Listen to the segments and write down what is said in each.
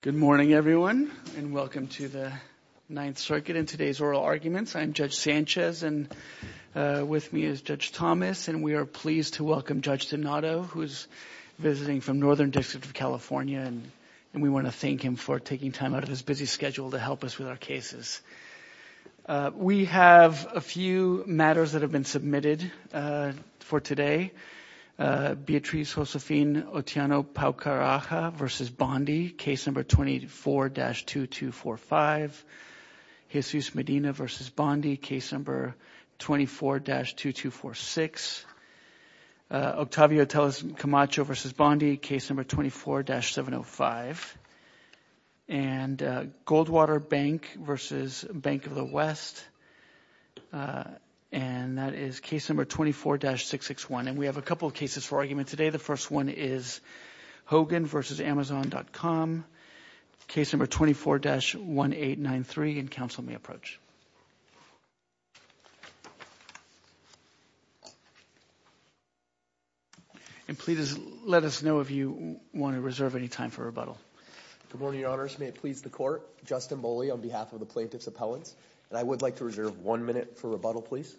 Good morning, everyone, and welcome to the Ninth Circuit. In today's oral arguments, I'm Judge Sanchez, and with me is Judge Thomas, and we are pleased to welcome Judge Donato, who is visiting from Northern District of California, and we want to thank him for taking time out of his busy schedule to help us with our cases. We have a few matters that have been submitted for today. Beatriz Josefine Otiano-Paucaraja v. Bondi, Case No. 24-2245, Jesus Medina v. Bondi, Case No. 24-2246, Octavio Tellez Camacho v. Bondi, Case No. 24-705, and Goldwater Bank v. Bank of the West, and that is Case No. 24-661, and we have a couple of cases for argument today. The first one is Hogan v. Amazon.com, Case No. 24-1893, and Counsel May Approach. And please let us know if you want to reserve any time for rebuttal. Good morning, Your Honors. May it please the Court, Justin Moley on behalf of the Plaintiff's Appellants, and I would like to reserve one minute for rebuttal, please.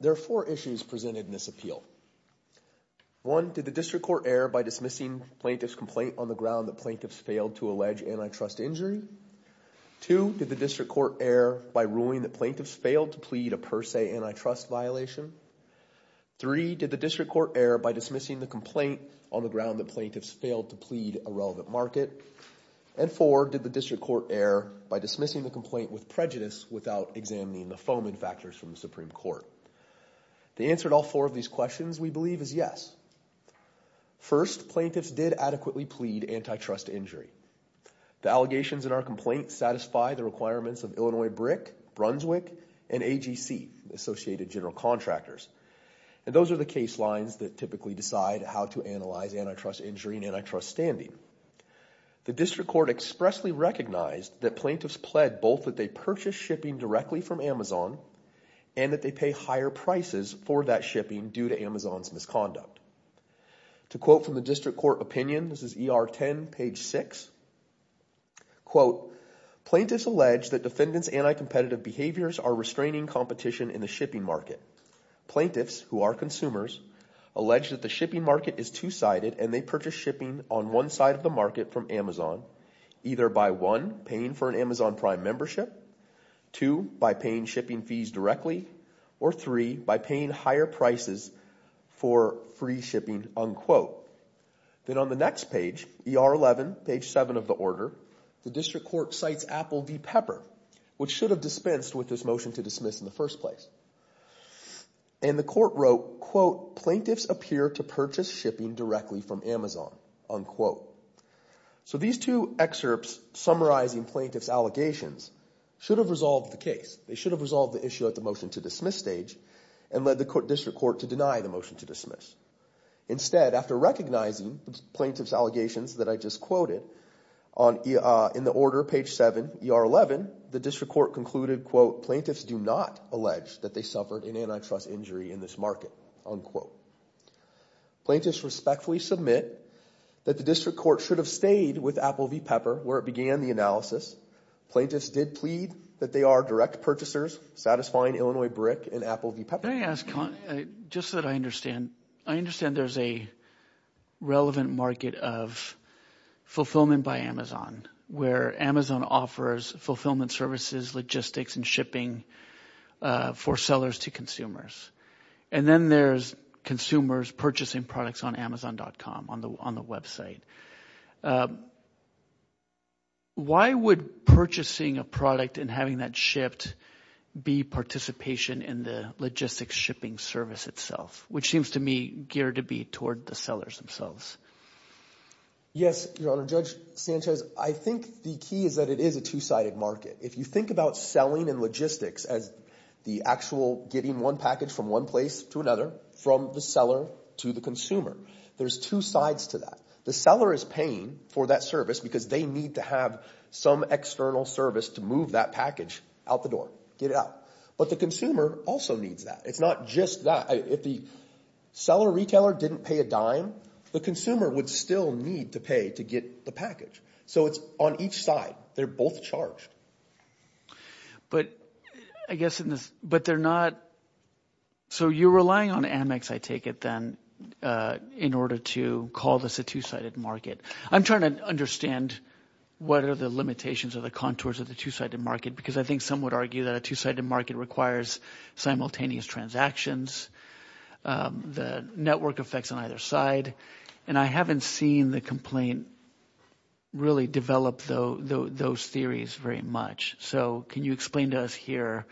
There are four issues presented in this appeal. One, did the District Court err by dismissing Plaintiff's complaint on the ground that Plaintiff's failed to allege antitrust injury? Two, did the District Court err by ruling that Plaintiff's failed to plead a per se antitrust violation? Three, did the District Court err by dismissing the complaint on the ground that Plaintiff's failed to plead a relevant market? And four, did the District Court err by dismissing the complaint with prejudice without examining the foaming factors from the Supreme Court? The answer to all four of these questions, we believe, is yes. First, Plaintiff's did adequately plead antitrust injury. The allegations in our complaint satisfy the requirements of Illinois BRIC, Brunswick, and AGC, Associated General Contractors, and those are the case lines that typically decide how to analyze antitrust injury and antitrust standing. The District Court expressly recognized that Plaintiff's pled both that they purchase shipping directly from Amazon and that they pay higher prices for that shipping due to Amazon's misconduct. To quote from the District Court opinion, this is ER 10, page six, quote, Plaintiff's alleged that defendant's anti-competitive behaviors are restraining competition in the shipping market. Plaintiff's, who are consumers, allege that the shipping market is two-sided and they purchase shipping on one side of the market from Amazon, either by one, paying for an Amazon Prime membership, two, by paying shipping fees directly, or three, by paying higher prices for free shipping, unquote. Then on the next page, ER 11, page seven of the order, the District Court cites Apple v. Pepper, which should have dispensed with this motion to dismiss in the first place. And the court wrote, quote, Plaintiff's appear to purchase shipping directly from Amazon, unquote. So these two excerpts summarizing Plaintiff's allegations should have resolved the case. They should have resolved the issue at the motion to dismiss stage and led the District Court to deny the motion to dismiss. Instead, after recognizing Plaintiff's allegations that I just quoted, in the order, page seven, ER 11, the District Court concluded, quote, Plaintiff's do not allege that they suffered an antitrust injury in this market, unquote. Plaintiff's respectfully submit that the District Court should have stayed with Apple v. Pepper where it began the analysis. Plaintiff's did plead that they are direct purchasers, satisfying Illinois BRIC and Apple v. Pepper. Can I ask, just so that I understand, I understand there's a relevant market of fulfillment by Amazon where Amazon offers fulfillment services, logistics, and shipping for sellers to consumers. And then there's consumers purchasing products on Amazon.com, on the website. Why would purchasing a product and having that shipped be participation in the logistics shipping service itself, which seems to me geared to be toward the sellers themselves? Yes, Your Honor, Judge Sanchez, I think the key is that it is a two-sided market. If you think about selling and logistics as the actual getting one package from one place to another, from the seller to the consumer, there's two sides to that. The seller is paying for that service because they need to have some external service to move that package out the door, get it out. But the consumer also needs that. It's not just that. If the seller-retailer didn't pay a dime, the consumer would still need to pay to get the package. So it's on each side, they're both charged. But I guess in this, but they're not, so you're relying on Amex, I take it then, in order to call this a two-sided market. I'm trying to understand what are the limitations or the contours of the two-sided market because I think some would argue that a two-sided market requires simultaneous transactions, the network effects on either side. And I haven't seen the complaint really develop those theories very much. So can you explain to us here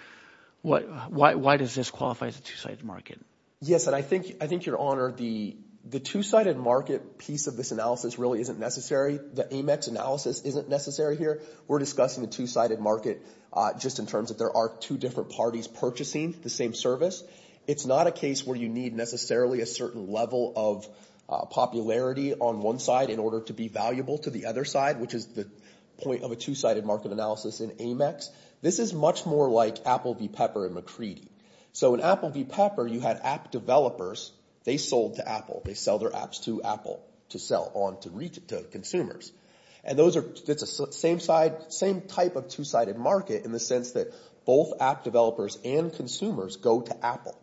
why does this qualify as a two-sided market? Yes, and I think, Your Honor, the two-sided market piece of this analysis really isn't necessary. The Amex analysis isn't necessary here. We're discussing the two-sided market just in terms of there are two different parties purchasing the same service. It's not a case where you need necessarily a certain level of popularity on one side in order to be valuable to the other side, which is the point of a two-sided market analysis in Amex. This is much more like Apple v. Pepper and McCready. So in Apple v. Pepper, you had app developers. They sold to Apple. They sell their apps to Apple to sell on to consumers. And that's the same type of two-sided market in the sense that both app developers and consumers go to Apple.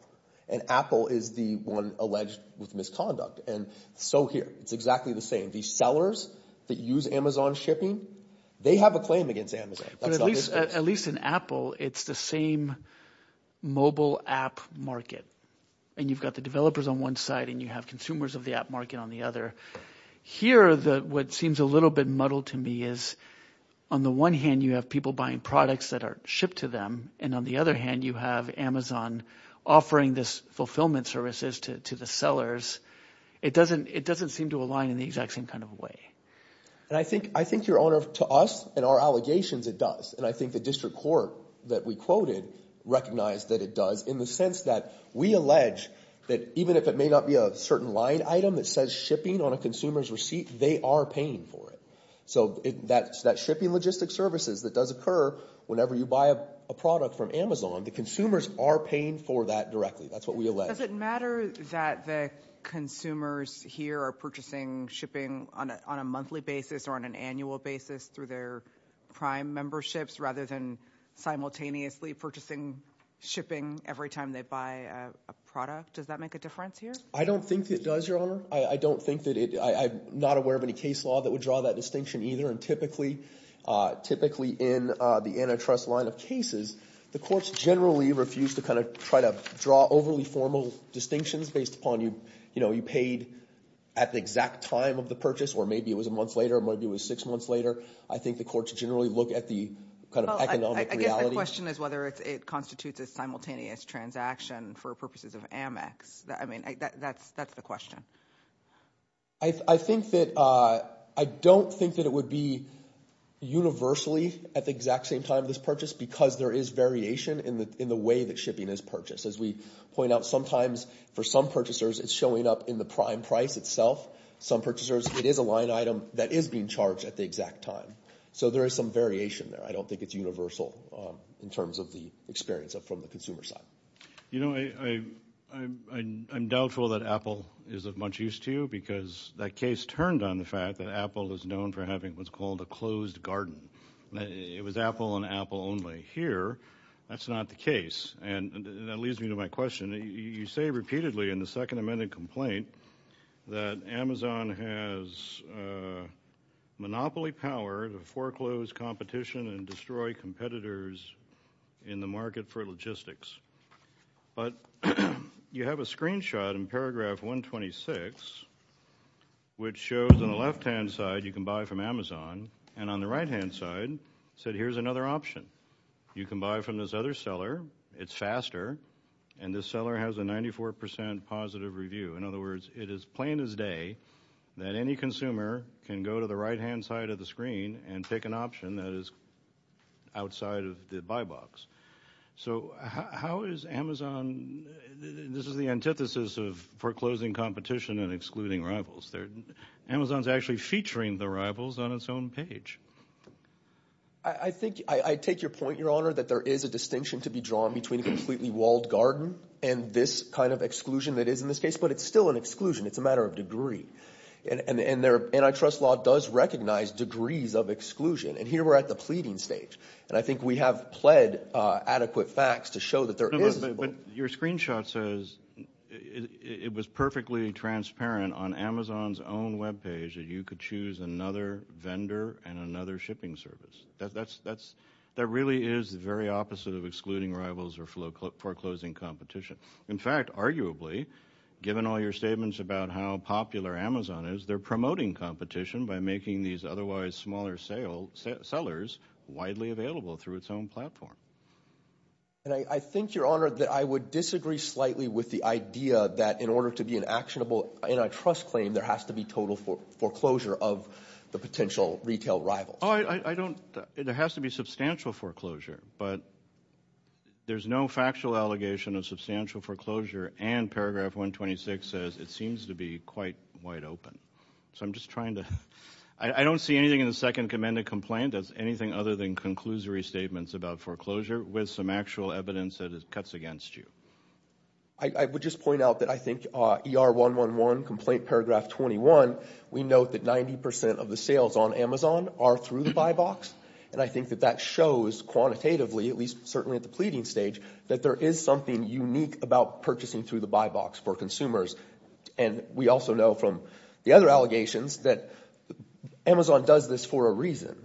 And Apple is the one alleged with misconduct. And so here, it's exactly the same. These sellers that use Amazon shipping, they have a claim against Amazon. At least in Apple, it's the same mobile app market. And you've got the developers on one side and you have consumers of the app market on the other. Here, what seems a little bit muddled to me is on the one hand, you have people buying products that are shipped to them, and on the other hand, you have Amazon offering this fulfillment services to the sellers. It doesn't seem to align in the exact same kind of way. And I think, Your Honor, to us and our allegations, it does. And I think the district court that we quoted recognized that it does in the sense that we allege that even if it may not be a certain line item that says shipping on a consumer's receipt, they are paying for it. So that shipping logistic services that does occur whenever you buy a product from Amazon, the consumers are paying for that directly. That's what we allege. Does it matter that the consumers here are purchasing shipping on a monthly basis or on an annual basis through their prime memberships rather than simultaneously purchasing shipping every time they buy a product? Does that make a difference here? I don't think it does, Your Honor. I don't think that it, I'm not aware of any case law that would draw that distinction either. And typically, typically in the antitrust line of cases, the courts generally refuse to kind of try to draw overly formal distinctions based upon, you know, you paid at the exact time of the purchase or maybe it was a month later, maybe it was six months later. I think the courts generally look at the kind of economic reality. Well, I guess the question is whether it constitutes a simultaneous transaction for purposes of Amex. I mean, that's the question. I think that, I don't think that it would be universally at the exact same time of this shipping is purchased. As we point out, sometimes for some purchasers, it's showing up in the prime price itself. Some purchasers, it is a line item that is being charged at the exact time. So there is some variation there. I don't think it's universal in terms of the experience from the consumer side. You know, I'm doubtful that Apple is of much use to you because that case turned on the fact that Apple is known for having what's called a closed garden. It was Apple and Apple only here. That's not the case. And that leads me to my question. You say repeatedly in the second amended complaint that Amazon has monopoly power to foreclose competition and destroy competitors in the market for logistics. But you have a screenshot in paragraph 126, which shows on the left-hand side, you can buy from Amazon. And on the right-hand side, it said here's another option. You can buy from this other seller. It's faster. And this seller has a 94% positive review. In other words, it is plain as day that any consumer can go to the right-hand side of the screen and pick an option that is outside of the buy box. So how is Amazon, this is the antithesis of foreclosing competition and excluding rivals. Amazon's actually featuring the rivals on its own page. I think, I take your point, Your Honor, that there is a distinction to be drawn between a completely walled garden and this kind of exclusion that is in this case. But it's still an exclusion. It's a matter of degree. And their antitrust law does recognize degrees of exclusion. And here we're at the pleading stage. And I think we have pled adequate facts to show that there is a... But your screenshot says it was perfectly transparent on Amazon's own web page that you could choose another vendor and another shipping service. That really is the very opposite of excluding rivals or foreclosing competition. In fact, arguably, given all your statements about how popular Amazon is, they're promoting competition by making these otherwise smaller sellers widely available through its own platform. And I think, Your Honor, that I would disagree slightly with the idea that in order to be actionable antitrust claim, there has to be total foreclosure of the potential retail rivals. I don't... There has to be substantial foreclosure. But there's no factual allegation of substantial foreclosure. And paragraph 126 says it seems to be quite wide open. So I'm just trying to... I don't see anything in the second amended complaint as anything other than conclusory statements about foreclosure with some actual evidence that it cuts against you. I would just point out that I think ER111, complaint paragraph 21, we note that 90% of the sales on Amazon are through the buy box. And I think that that shows quantitatively, at least certainly at the pleading stage, that there is something unique about purchasing through the buy box for consumers. And we also know from the other allegations that Amazon does this for a reason.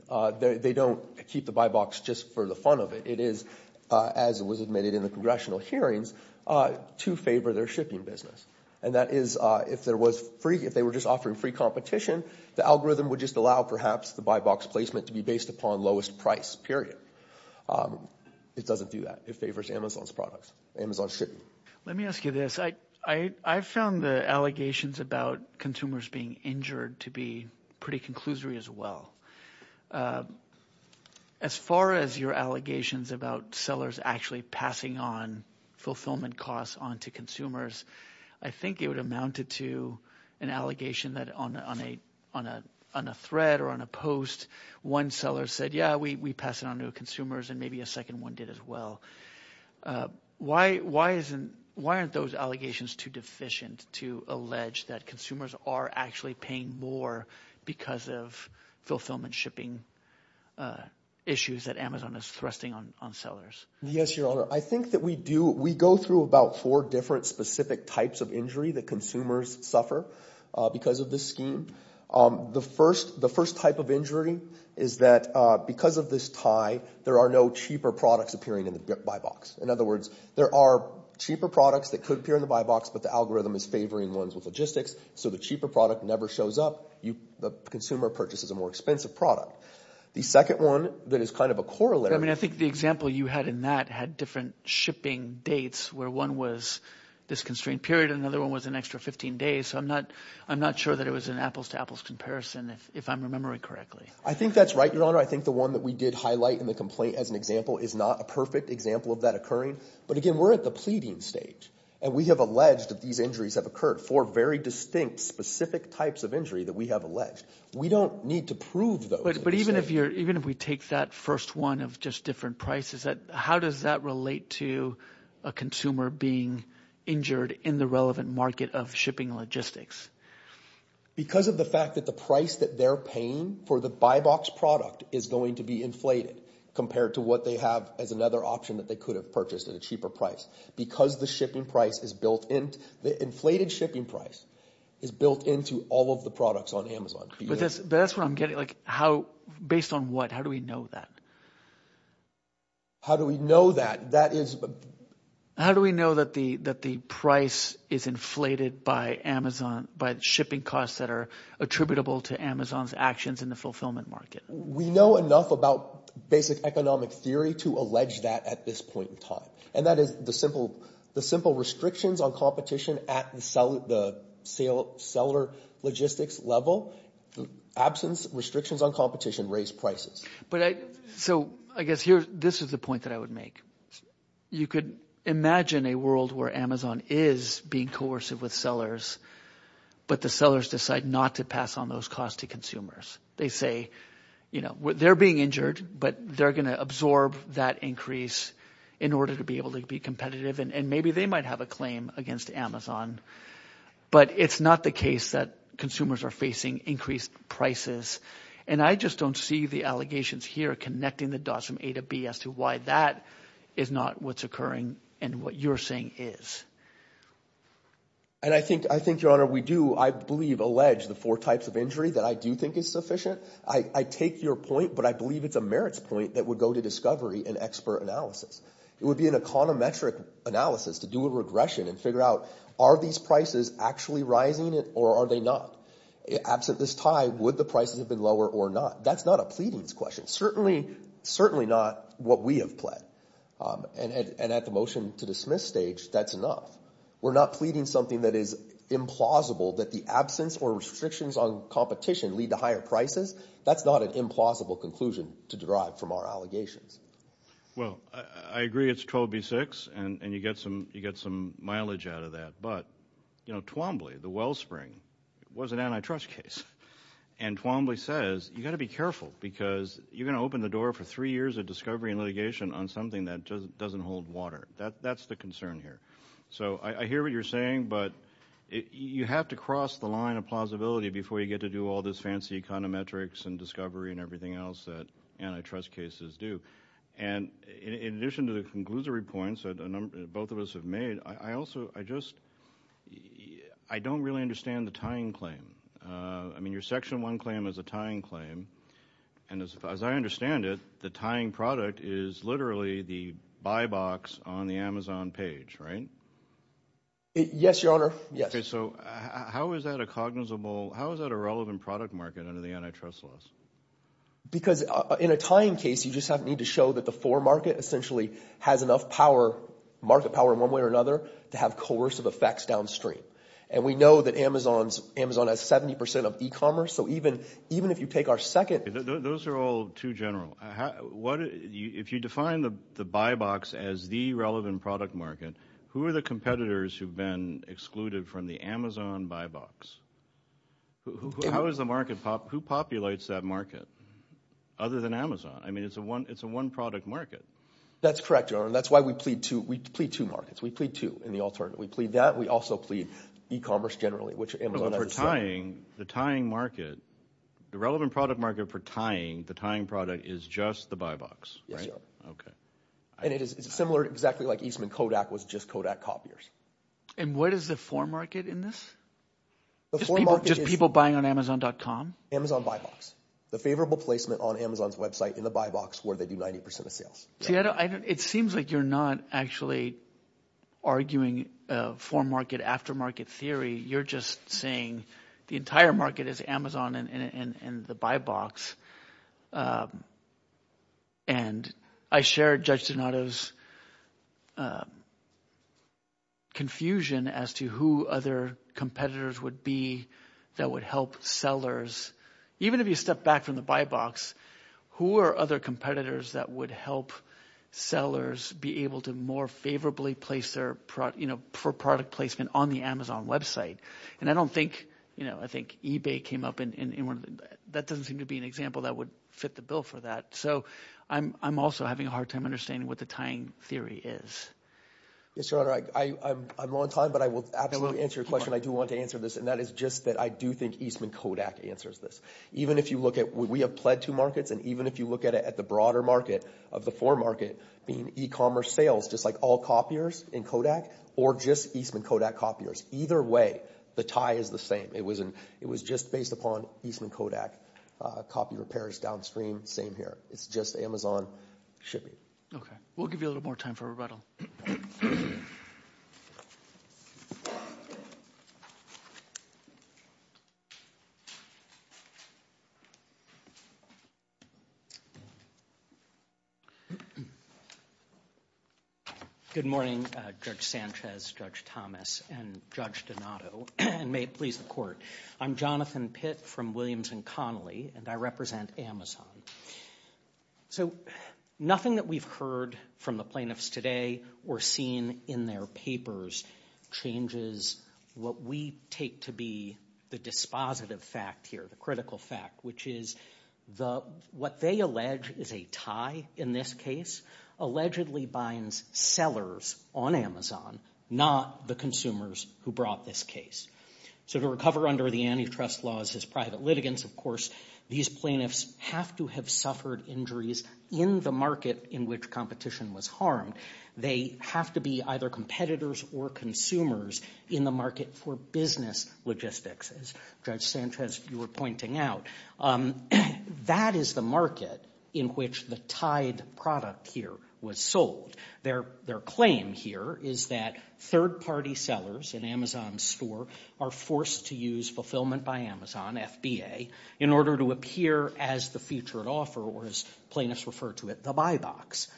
They don't keep the buy box just for the fun of it. It is, as it was admitted in the congressional hearings, to favor their shipping business. And that is if there was free... If they were just offering free competition, the algorithm would just allow perhaps the buy box placement to be based upon lowest price, period. It doesn't do that. It favors Amazon's products, Amazon's shipping. Let me ask you this. I found the allegations about consumers being injured to be pretty conclusory as well. As far as your allegations about sellers actually passing on fulfillment costs onto consumers, I think it would amount to an allegation that on a thread or on a post, one seller said, yeah, we pass it on to consumers, and maybe a second one did as well. Why aren't those allegations too deficient to allege that consumers are actually paying more because of fulfillment shipping issues that Amazon is thrusting on sellers? Yes, your honor. I think that we do. We go through about four different specific types of injury that consumers suffer because of this scheme. The first type of injury is that because of this tie, there are no cheaper products appearing in the buy box. In other words, there are cheaper products that could appear in the buy box, but the algorithm is favoring ones with logistics. The cheaper product never shows up. The consumer purchases a more expensive product. The second one that is kind of a corollary. I think the example you had in that had different shipping dates where one was this constrained period and another one was an extra 15 days. I'm not sure that it was an apples to apples comparison if I'm remembering correctly. I think that's right, your honor. I think the one that we did highlight in the complaint as an example is not a perfect example of that occurring. Again, we're at the pleading stage, and we have alleged that these injuries have occurred. Four very distinct specific types of injury that we have alleged. We don't need to prove those. But even if we take that first one of just different prices, how does that relate to a consumer being injured in the relevant market of shipping logistics? Because of the fact that the price that they're paying for the buy box product is going to be inflated compared to what they have as another option that they could have purchased at a cheaper price. Because the inflated shipping price is built into all of the products on Amazon. But that's what I'm getting. Based on what? How do we know that? How do we know that? How do we know that the price is inflated by the shipping costs that are attributable to Amazon's actions in the fulfillment market? We know enough about basic economic theory to allege that at this point in time. And that is the simple restrictions on competition at the seller logistics level, absence restrictions on competition raise prices. So I guess this is the point that I would make. You could imagine a world where Amazon is being coercive with sellers, but the sellers decide not to pass on those costs to consumers. They say they're being injured, but they're going to absorb that increase in order to be able to be competitive. And maybe they might have a claim against Amazon, but it's not the case that consumers are facing increased prices. And I just don't see the allegations here connecting the dots from A to B as to why that is not what's occurring and what you're saying is. And I think, Your Honor, we do, I believe, allege the four types of injury that I do think is sufficient. I take your point, but I believe it's a merits point that would go to discovery and expert analysis. It would be an econometric analysis to do a regression and figure out, are these prices actually rising or are they not? Absent this tie, would the prices have been lower or not? That's not a pleadings question, certainly not what we have pled. And at the motion to dismiss stage, that's enough. We're not pleading something that is implausible, that the absence or restrictions on competition lead to higher prices. That's not an implausible conclusion to derive from our allegations. Well, I agree it's 12B6 and you get some mileage out of that, but, you know, Twombly, the Wellspring, was an antitrust case. And Twombly says, you've got to be careful because you're going to open the door for three years of discovery and litigation on something that doesn't hold water. That's the concern here. So I hear what you're saying, but you have to cross the line of plausibility before you get to do all this fancy econometrics and discovery and everything else that antitrust cases do. And in addition to the conclusory points that both of us have made, I also, I just, I don't really understand the tying claim. I mean, your section one claim is a tying claim. And as I understand it, the tying product is literally the buy box on the Amazon page, right? Yes, Your Honor. Yes. Okay, so how is that a cognizable, how is that a relevant product market under the antitrust laws? Because in a tying case, you just need to show that the for market essentially has enough power, market power in one way or another, to have coercive effects downstream. And we know that Amazon has 70% of e-commerce, so even if you take our second... Those are all too general. If you define the buy box as the relevant product market, who are the competitors who've been excluded from the Amazon buy box? How is the market, who populates that market other than Amazon? I mean, it's a one product market. That's correct, Your Honor. That's why we plead two, we plead two markets. We plead two in the alternate. We plead that. We also plead e-commerce generally, which Amazon hasn't said. The tying market, the relevant product market for tying, the tying product is just the buy box, right? Yes, Your Honor. Okay. And it is similar exactly like Eastman Kodak was just Kodak copiers. And what is the for market in this? Just people buying on Amazon.com? Amazon buy box. The favorable placement on Amazon's website in the buy box where they do 90% of sales. It seems like you're not actually arguing for market after market theory. You're just saying the entire market is Amazon and the buy box. And I share Judge Donato's confusion as to who other competitors would be that would help sellers. Even if you step back from the buy box, who are other competitors that would help sellers be able to more favorably place their product, you know, for product placement on the Amazon website? And I don't think, you know, I think eBay came up and that doesn't seem to be an example that would fit the bill for that. So I'm also having a hard time understanding what the tying theory is. Yes, Your Honor. I'm on time, but I will absolutely answer your question. I do want to answer this. And that is just that I do think Eastman Kodak answers this. Even if you look at what we have pled to markets, and even if you look at it at the broader market of the for market being e-commerce sales, just like all copiers in Kodak or just Eastman Kodak copiers. Either way, the tie is the same. It was just based upon Eastman Kodak copy repairs downstream. Same here. It's just Amazon shipping. Okay. We'll give you a little more time for rebuttal. Good morning, Judge Sanchez, Judge Thomas, and Judge Donato, and may it please the court. I'm Jonathan Pitt from Williams and Connolly, and I represent Amazon. So nothing that we've heard from the plaintiffs today or seen in their papers changes what we take to be the dispositive fact here, the critical fact, which is the what they allege is a tie in this case, allegedly binds sellers on Amazon, not the consumers who brought this case. So to recover under the antitrust laws as private litigants, of course, these plaintiffs have to have suffered injuries in the market in which competition was harmed. They have to be either competitors or consumers in the market for business logistics, as Judge Sanchez, you were pointing out. That is the market in which the tied product here was sold. Their claim here is that third-party sellers in Amazon's store are forced to use fulfillment by Amazon, FBA, in order to appear as the featured offer, or as plaintiffs refer to it, the buy box.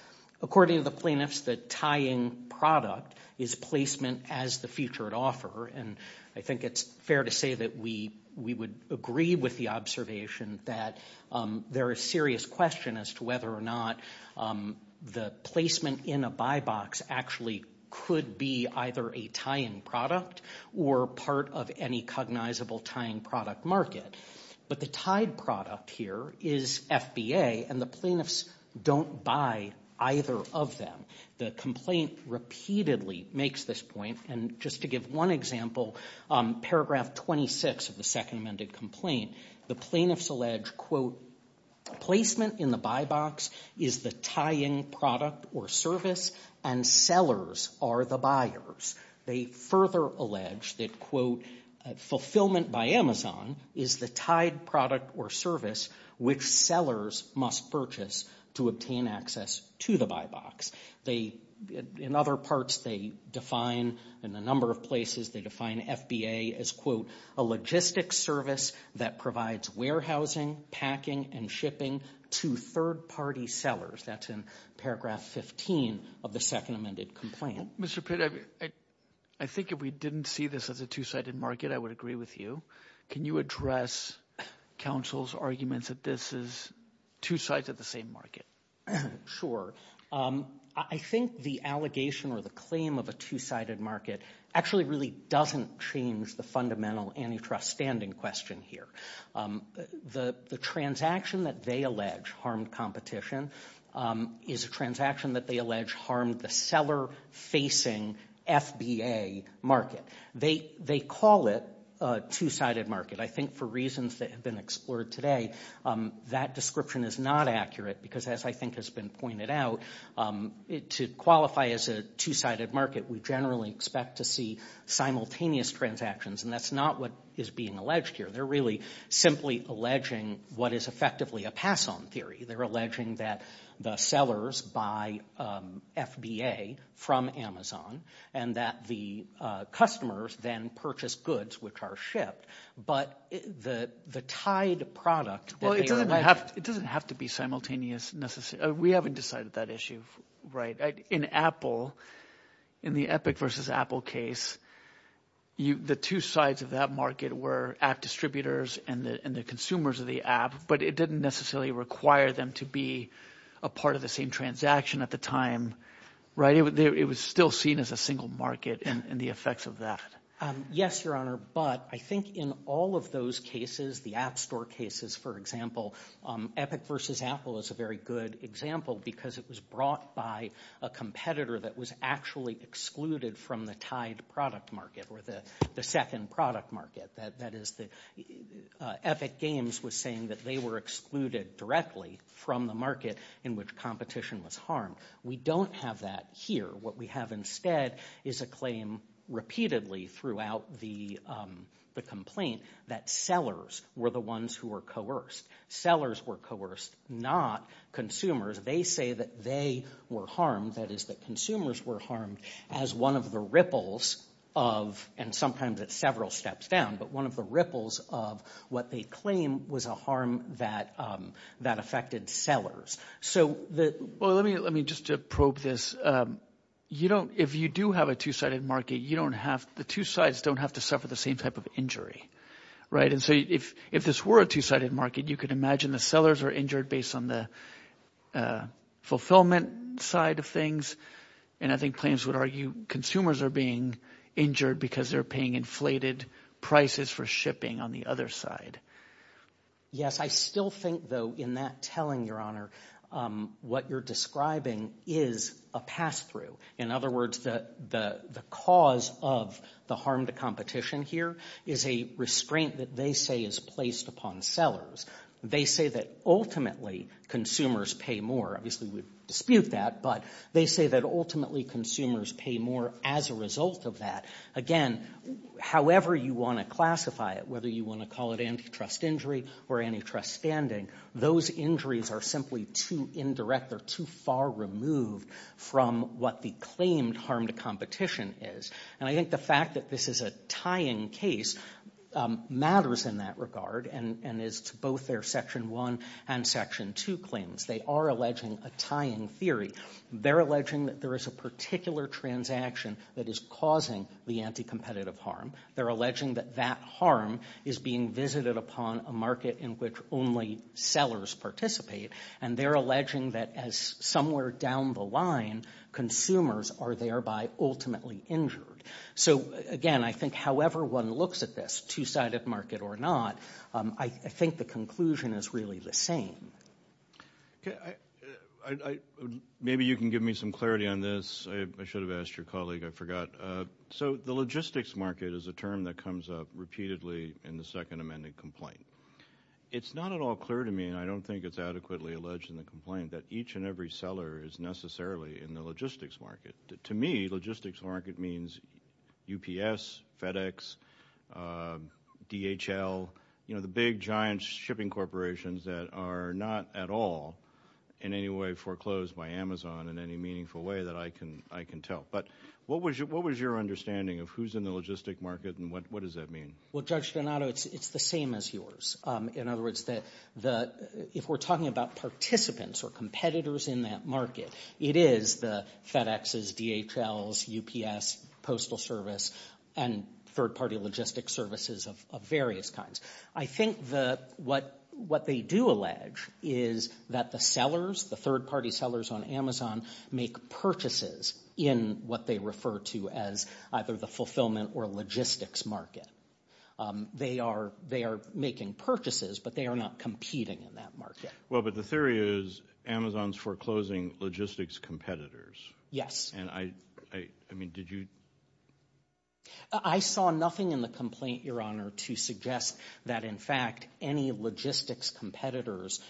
According to the plaintiffs, the tying product is placement as the featured offer, and I think it's fair to say that we would agree with the observation that there is serious question as to whether or not the placement in a buy box actually could be either a tie-in product or part of any cognizable tying product market. But the tied product here is FBA, and the plaintiffs don't buy either of them. The complaint repeatedly makes this point, and just to give one example, paragraph 26 of the second amended complaint, the plaintiffs allege, quote, placement in the buy box is the tying product or service, and sellers are the buyers. They further allege that, quote, fulfillment by Amazon is the tied product or service which sellers must purchase to obtain access to the buy box. In other parts, they define, in a number of places, they define FBA as, quote, a logistics service that provides warehousing, packing, and shipping to third-party sellers. That's in paragraph 15 of the second amended complaint. Mr. Pitt, I think if we didn't see this as a two-sided market, I would agree with you. Can you address counsel's arguments that this is two sides of the same market? I think the allegation or the claim of a two-sided market actually really doesn't change the fundamental antitrust standing question here. The transaction that they allege harmed competition is a transaction that they allege harmed the seller-facing FBA market. They call it a two-sided market. I think for reasons that have been explored today, that description is not accurate because, as I think has been pointed out, to qualify as a two-sided market, we generally expect to see simultaneous transactions, and that's not what is being alleged here. They're really simply alleging what is effectively a pass-on theory. They're alleging that the sellers buy FBA from Amazon, and that the customers then purchase goods which are shipped, but the tied product that they are alleging... It doesn't have to be simultaneous, necessarily. We haven't decided that issue, right? In Apple, in the Epic versus Apple case, the two sides of that market were app distributors and the consumers of the app, but it didn't necessarily require them to be a part of the same transaction at the time, right? It was still seen as a single market and the effects of that. Yes, Your Honor, but I think in all of those cases, the App Store cases, for example, Epic versus Apple is a very good example because it was brought by a competitor that was actually excluded from the tied product market or the second product market. That is, Epic Games was saying that they were excluded directly from the market in which competition was harmed. We don't have that here. What we have instead is a claim repeatedly throughout the complaint that sellers were the ones who were coerced. Sellers were coerced, not consumers. They say that they were harmed, that is that consumers were harmed, as one of the ripples of and sometimes at several steps down, but one of the ripples of what they claim was a harm that affected sellers. Let me just probe this. If you do have a two-sided market, the two sides don't have to suffer the same type of injury, right? If this were a two-sided market, you can imagine the sellers are injured based on the fulfillment side of things, and I think claims would argue consumers are being injured because they're paying inflated prices for shipping on the other side. Yes, I still think, though, in that telling, Your Honor, what you're describing is a pass-through. In other words, the cause of the harm to competition here is a restraint that they say is placed upon sellers. They say that ultimately consumers pay more, obviously we dispute that, but they say that ultimately consumers pay more as a result of that. Again, however you want to classify it, whether you want to call it antitrust injury or antitrust standing, those injuries are simply too indirect, they're too far removed from what the claimed harm to competition is. And I think the fact that this is a tying case matters in that regard, and it's both their Section 1 and Section 2 claims. They are alleging a tying theory. They're alleging that there is a particular transaction that is causing the anti-competitive harm. They're alleging that that harm is being visited upon a market in which only sellers participate, and they're alleging that as somewhere down the line, consumers are thereby ultimately injured. So again, I think however one looks at this, two-sided market or not, I think the conclusion is really the same. Maybe you can give me some clarity on this. I should have asked your colleague, I forgot. So the logistics market is a term that comes up repeatedly in the Second Amendment complaint. It's not at all clear to me, and I don't think it's adequately alleged in the complaint, that each and every seller is necessarily in the logistics market. To me, logistics market means UPS, FedEx, DHL, you know, the big giant shipping corporations that are not at all in any way foreclosed by Amazon in any meaningful way that I can tell. But what was your understanding of who's in the logistics market and what does that mean? Well, Judge Donato, it's the same as yours. In other words, if we're talking about participants or competitors in that market, it is the FedExes, DHLs, UPS, Postal Service, and third-party logistics services of various kinds. I think what they do allege is that the sellers, the third-party sellers on Amazon, make purchases in what they refer to as either the fulfillment or logistics market. They are making purchases, but they are not competing in that market. Well, but the theory is Amazon's foreclosing logistics competitors. Yes. And I mean, did you? I saw nothing in the complaint, Your Honor, to suggest that in fact any logistics competitors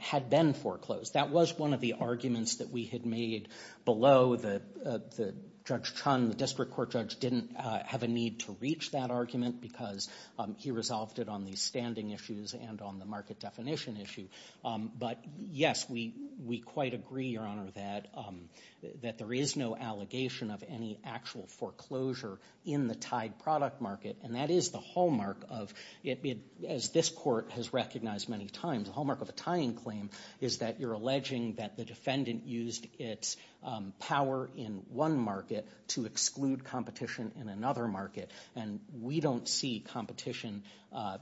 had been foreclosed. That was one of the arguments that we had made below that Judge Chun, the district court judge, didn't have a need to reach that argument because he resolved it on the standing issues and on the market definition issue. But yes, we quite agree, Your Honor, that there is no allegation of any actual foreclosure in the tied product market, and that is the hallmark of, as this court has recognized many times, the hallmark of a tying claim is that you're alleging that the defendant used its power in one market to exclude competition in another market. And we don't see competition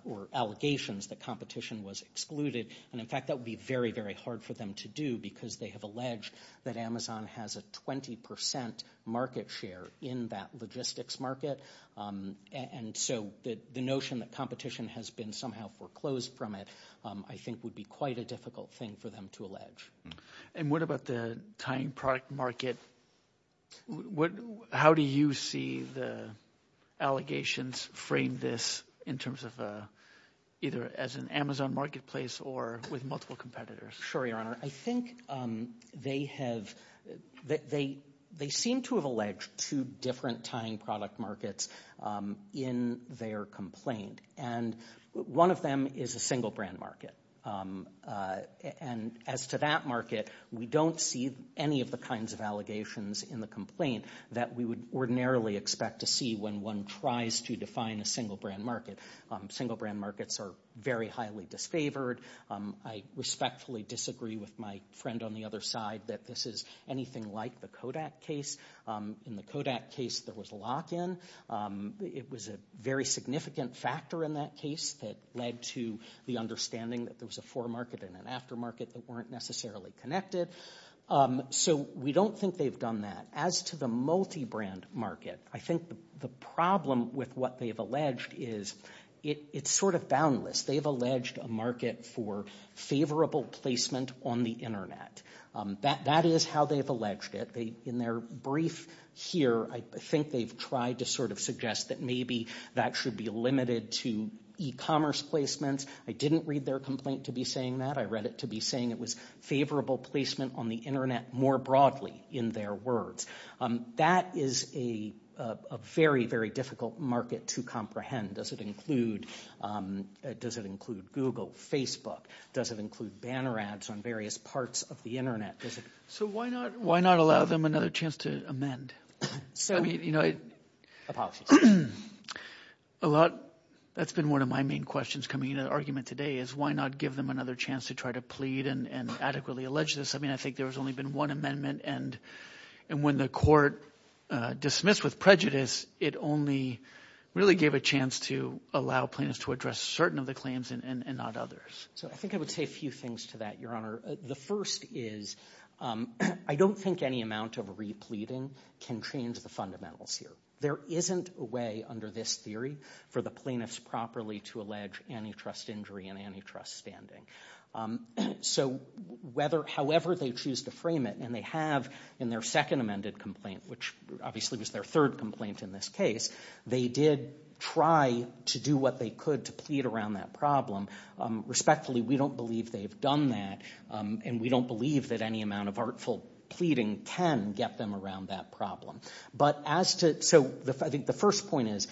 or allegations that competition was excluded. And in fact, that would be very, very hard for them to do because they have alleged that Amazon has a 20 percent market share in that logistics market. And so the notion that competition has been somehow foreclosed from it, I think, would be quite a difficult thing for them to allege. And what about the tying product market? How do you see the allegations frame this in terms of either as an Amazon marketplace or with multiple competitors? Sure, Your Honor. I think they have, they seem to have alleged two different tying product markets in their complaint. And one of them is a single brand market. And as to that market, we don't see any of the kinds of allegations in the complaint that we would ordinarily expect to see when one tries to define a single brand market. Single brand markets are very highly disfavored. I respectfully disagree with my friend on the other side that this is anything like the Kodak case. In the Kodak case, there was lock-in. It was a very significant factor in that case that led to the understanding that there was a foremarket and an aftermarket that weren't necessarily connected. So we don't think they've done that. As to the multi-brand market, I think the problem with what they've alleged is it's sort of boundless. They've alleged a market for favorable placement on the Internet. That is how they've alleged it. In their brief here, I think they've tried to sort of suggest that maybe that should be limited to e-commerce placements. I didn't read their complaint to be saying that. I read it to be saying it was favorable placement on the Internet more broadly in their words. That is a very, very difficult market to comprehend. Does it include Google, Facebook? Does it include banner ads on various parts of the Internet? So why not allow them another chance to amend? Apologies. That's been one of my main questions coming into the argument today, is why not give them another chance to try to plead and adequately allege this? I think there has only been one amendment, and when the court dismissed with prejudice, it only really gave a chance to allow plaintiffs to address certain of the claims and not others. So I think I would say a few things to that, Your Honor. The first is I don't think any amount of repleting can change the fundamentals here. There isn't a way under this theory for the plaintiffs properly to allege antitrust injury and antitrust standing. So however they choose to frame it, and they have in their second amended complaint, which obviously was their third complaint in this case, they did try to do what they could to plead around that problem. Respectfully, we don't believe they've done that, and we don't believe that any amount of artful pleading can get them around that problem. But as to, so I think the first point is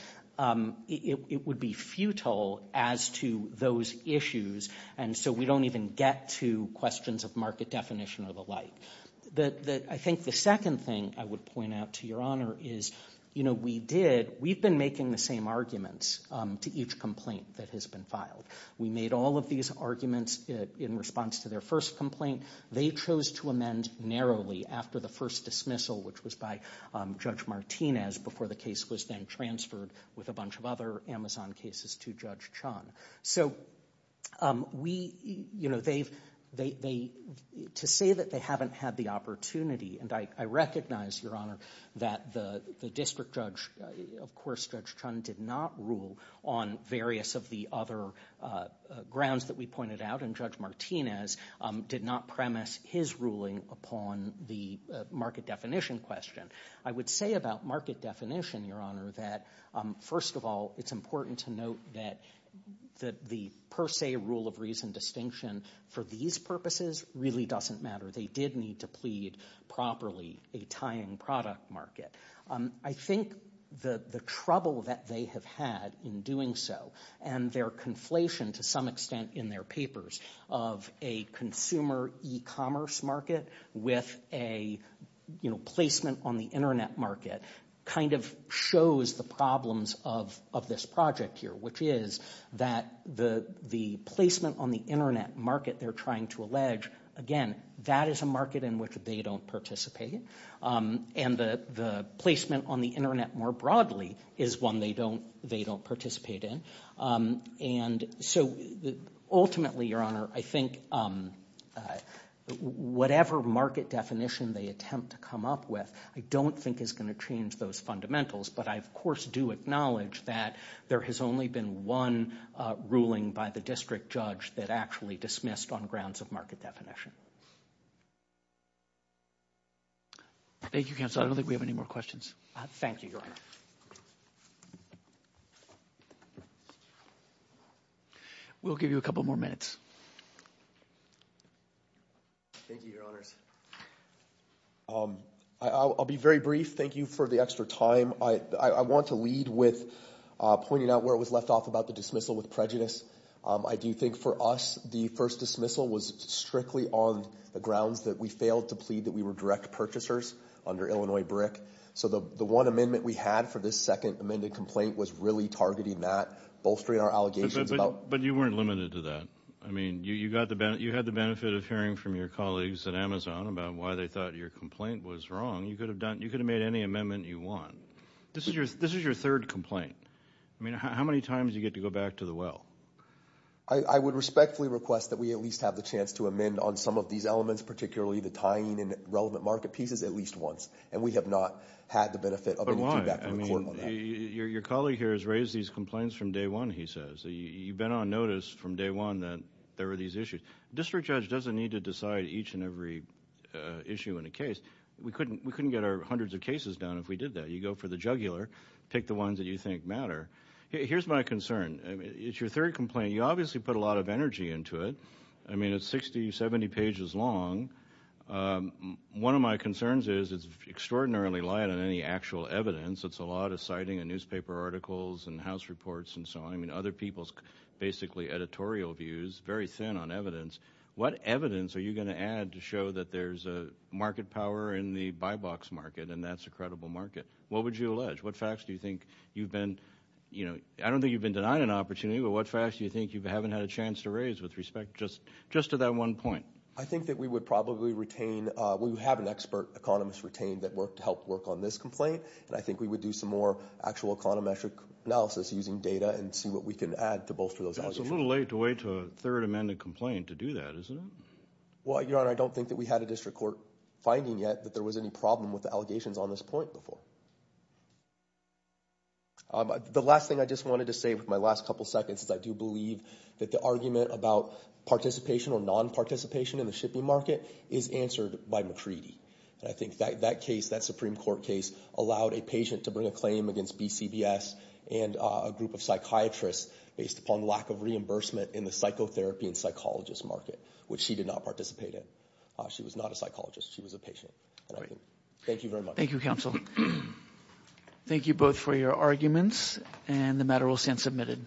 it would be futile as to those issues, and so we don't even get to questions of market definition or the like. I think the second thing I would point out to Your Honor is we did, we've been making the same arguments to each complaint that has been filed. We made all of these arguments in response to their first complaint. They chose to amend narrowly after the first dismissal, which was by Judge Martinez before the case was then transferred with a bunch of other Amazon cases to Judge Chun. So we, you know, they, to say that they haven't had the opportunity, and I recognize, Your Honor, that the district judge, of course Judge Chun did not rule on various of the other grounds that we pointed out, and Judge Martinez did not premise his ruling upon the market definition question. I would say about market definition, Your Honor, that first of all, it's important to note that the per se rule of reason distinction for these purposes really doesn't matter. They did need to plead properly a tying product market. I think the trouble that they have had in doing so, and their conflation to some extent in their papers of a consumer e-commerce market with a, you know, placement on the internet market kind of shows the problems of this project here, which is that the placement on the internet market they're trying to allege, again, that is a market in which they don't participate, and the placement on the internet more broadly is one they don't participate in, and so ultimately, Your Honor, I think whatever market definition they attempt to come up with, I don't think is going to change those fundamentals, but I, of course, do acknowledge that there has only been one ruling by the district judge that actually dismissed on grounds of market definition. Thank you, Counselor, I don't think we have any more questions. Thank you, Your Honor. We'll give you a couple more minutes. Thank you, Your Honors. I'll be very brief. Thank you for the extra time. I want to lead with pointing out where it was left off about the dismissal with prejudice. I do think for us, the first dismissal was strictly on the grounds that we failed to plead that we were direct purchasers under Illinois BRIC, so the one amendment we had for this second amended complaint was really targeting that, bolstering our allegations about- Well, but you weren't limited to that. I mean, you had the benefit of hearing from your colleagues at Amazon about why they thought your complaint was wrong. You could have made any amendment you want. This is your third complaint. I mean, how many times do you get to go back to the well? I would respectfully request that we at least have the chance to amend on some of these elements, particularly the tying in relevant market pieces at least once, and we have not had the benefit of any feedback from the court on that. Your colleague here has raised these complaints from day one, he says. You've been on notice from day one that there were these issues. District judge doesn't need to decide each and every issue in a case. We couldn't get our hundreds of cases done if we did that. You go for the jugular, pick the ones that you think matter. Here's my concern. It's your third complaint. You obviously put a lot of energy into it. I mean, it's 60, 70 pages long. One of my concerns is it's extraordinarily light on any actual evidence. It's a lot of citing of newspaper articles and house reports and so on. Other people's basically editorial views, very thin on evidence. What evidence are you going to add to show that there's a market power in the buy box market and that's a credible market? What would you allege? What facts do you think you've been, I don't think you've been denied an opportunity, but what facts do you think you haven't had a chance to raise with respect just to that one point? I think that we would probably retain, we would have an expert economist retain that worked to help work on this complaint, and I think we would do some more actual econometric analysis using data and see what we can add to bolster those. It's a little late to wait to a third amended complaint to do that, isn't it? Well, Your Honor, I don't think that we had a district court finding yet that there was any problem with the allegations on this point before. The last thing I just wanted to say with my last couple seconds is I do believe that the argument about participation or non-participation in the shipping market is answered by McCready. I think that case, that Supreme Court case, allowed a patient to bring a claim against BCBS and a group of psychiatrists based upon lack of reimbursement in the psychotherapy and psychologist market, which she did not participate in. She was not a psychologist, she was a patient. Thank you very much. Thank you, counsel. Thank you both for your arguments and the matter will stand submitted.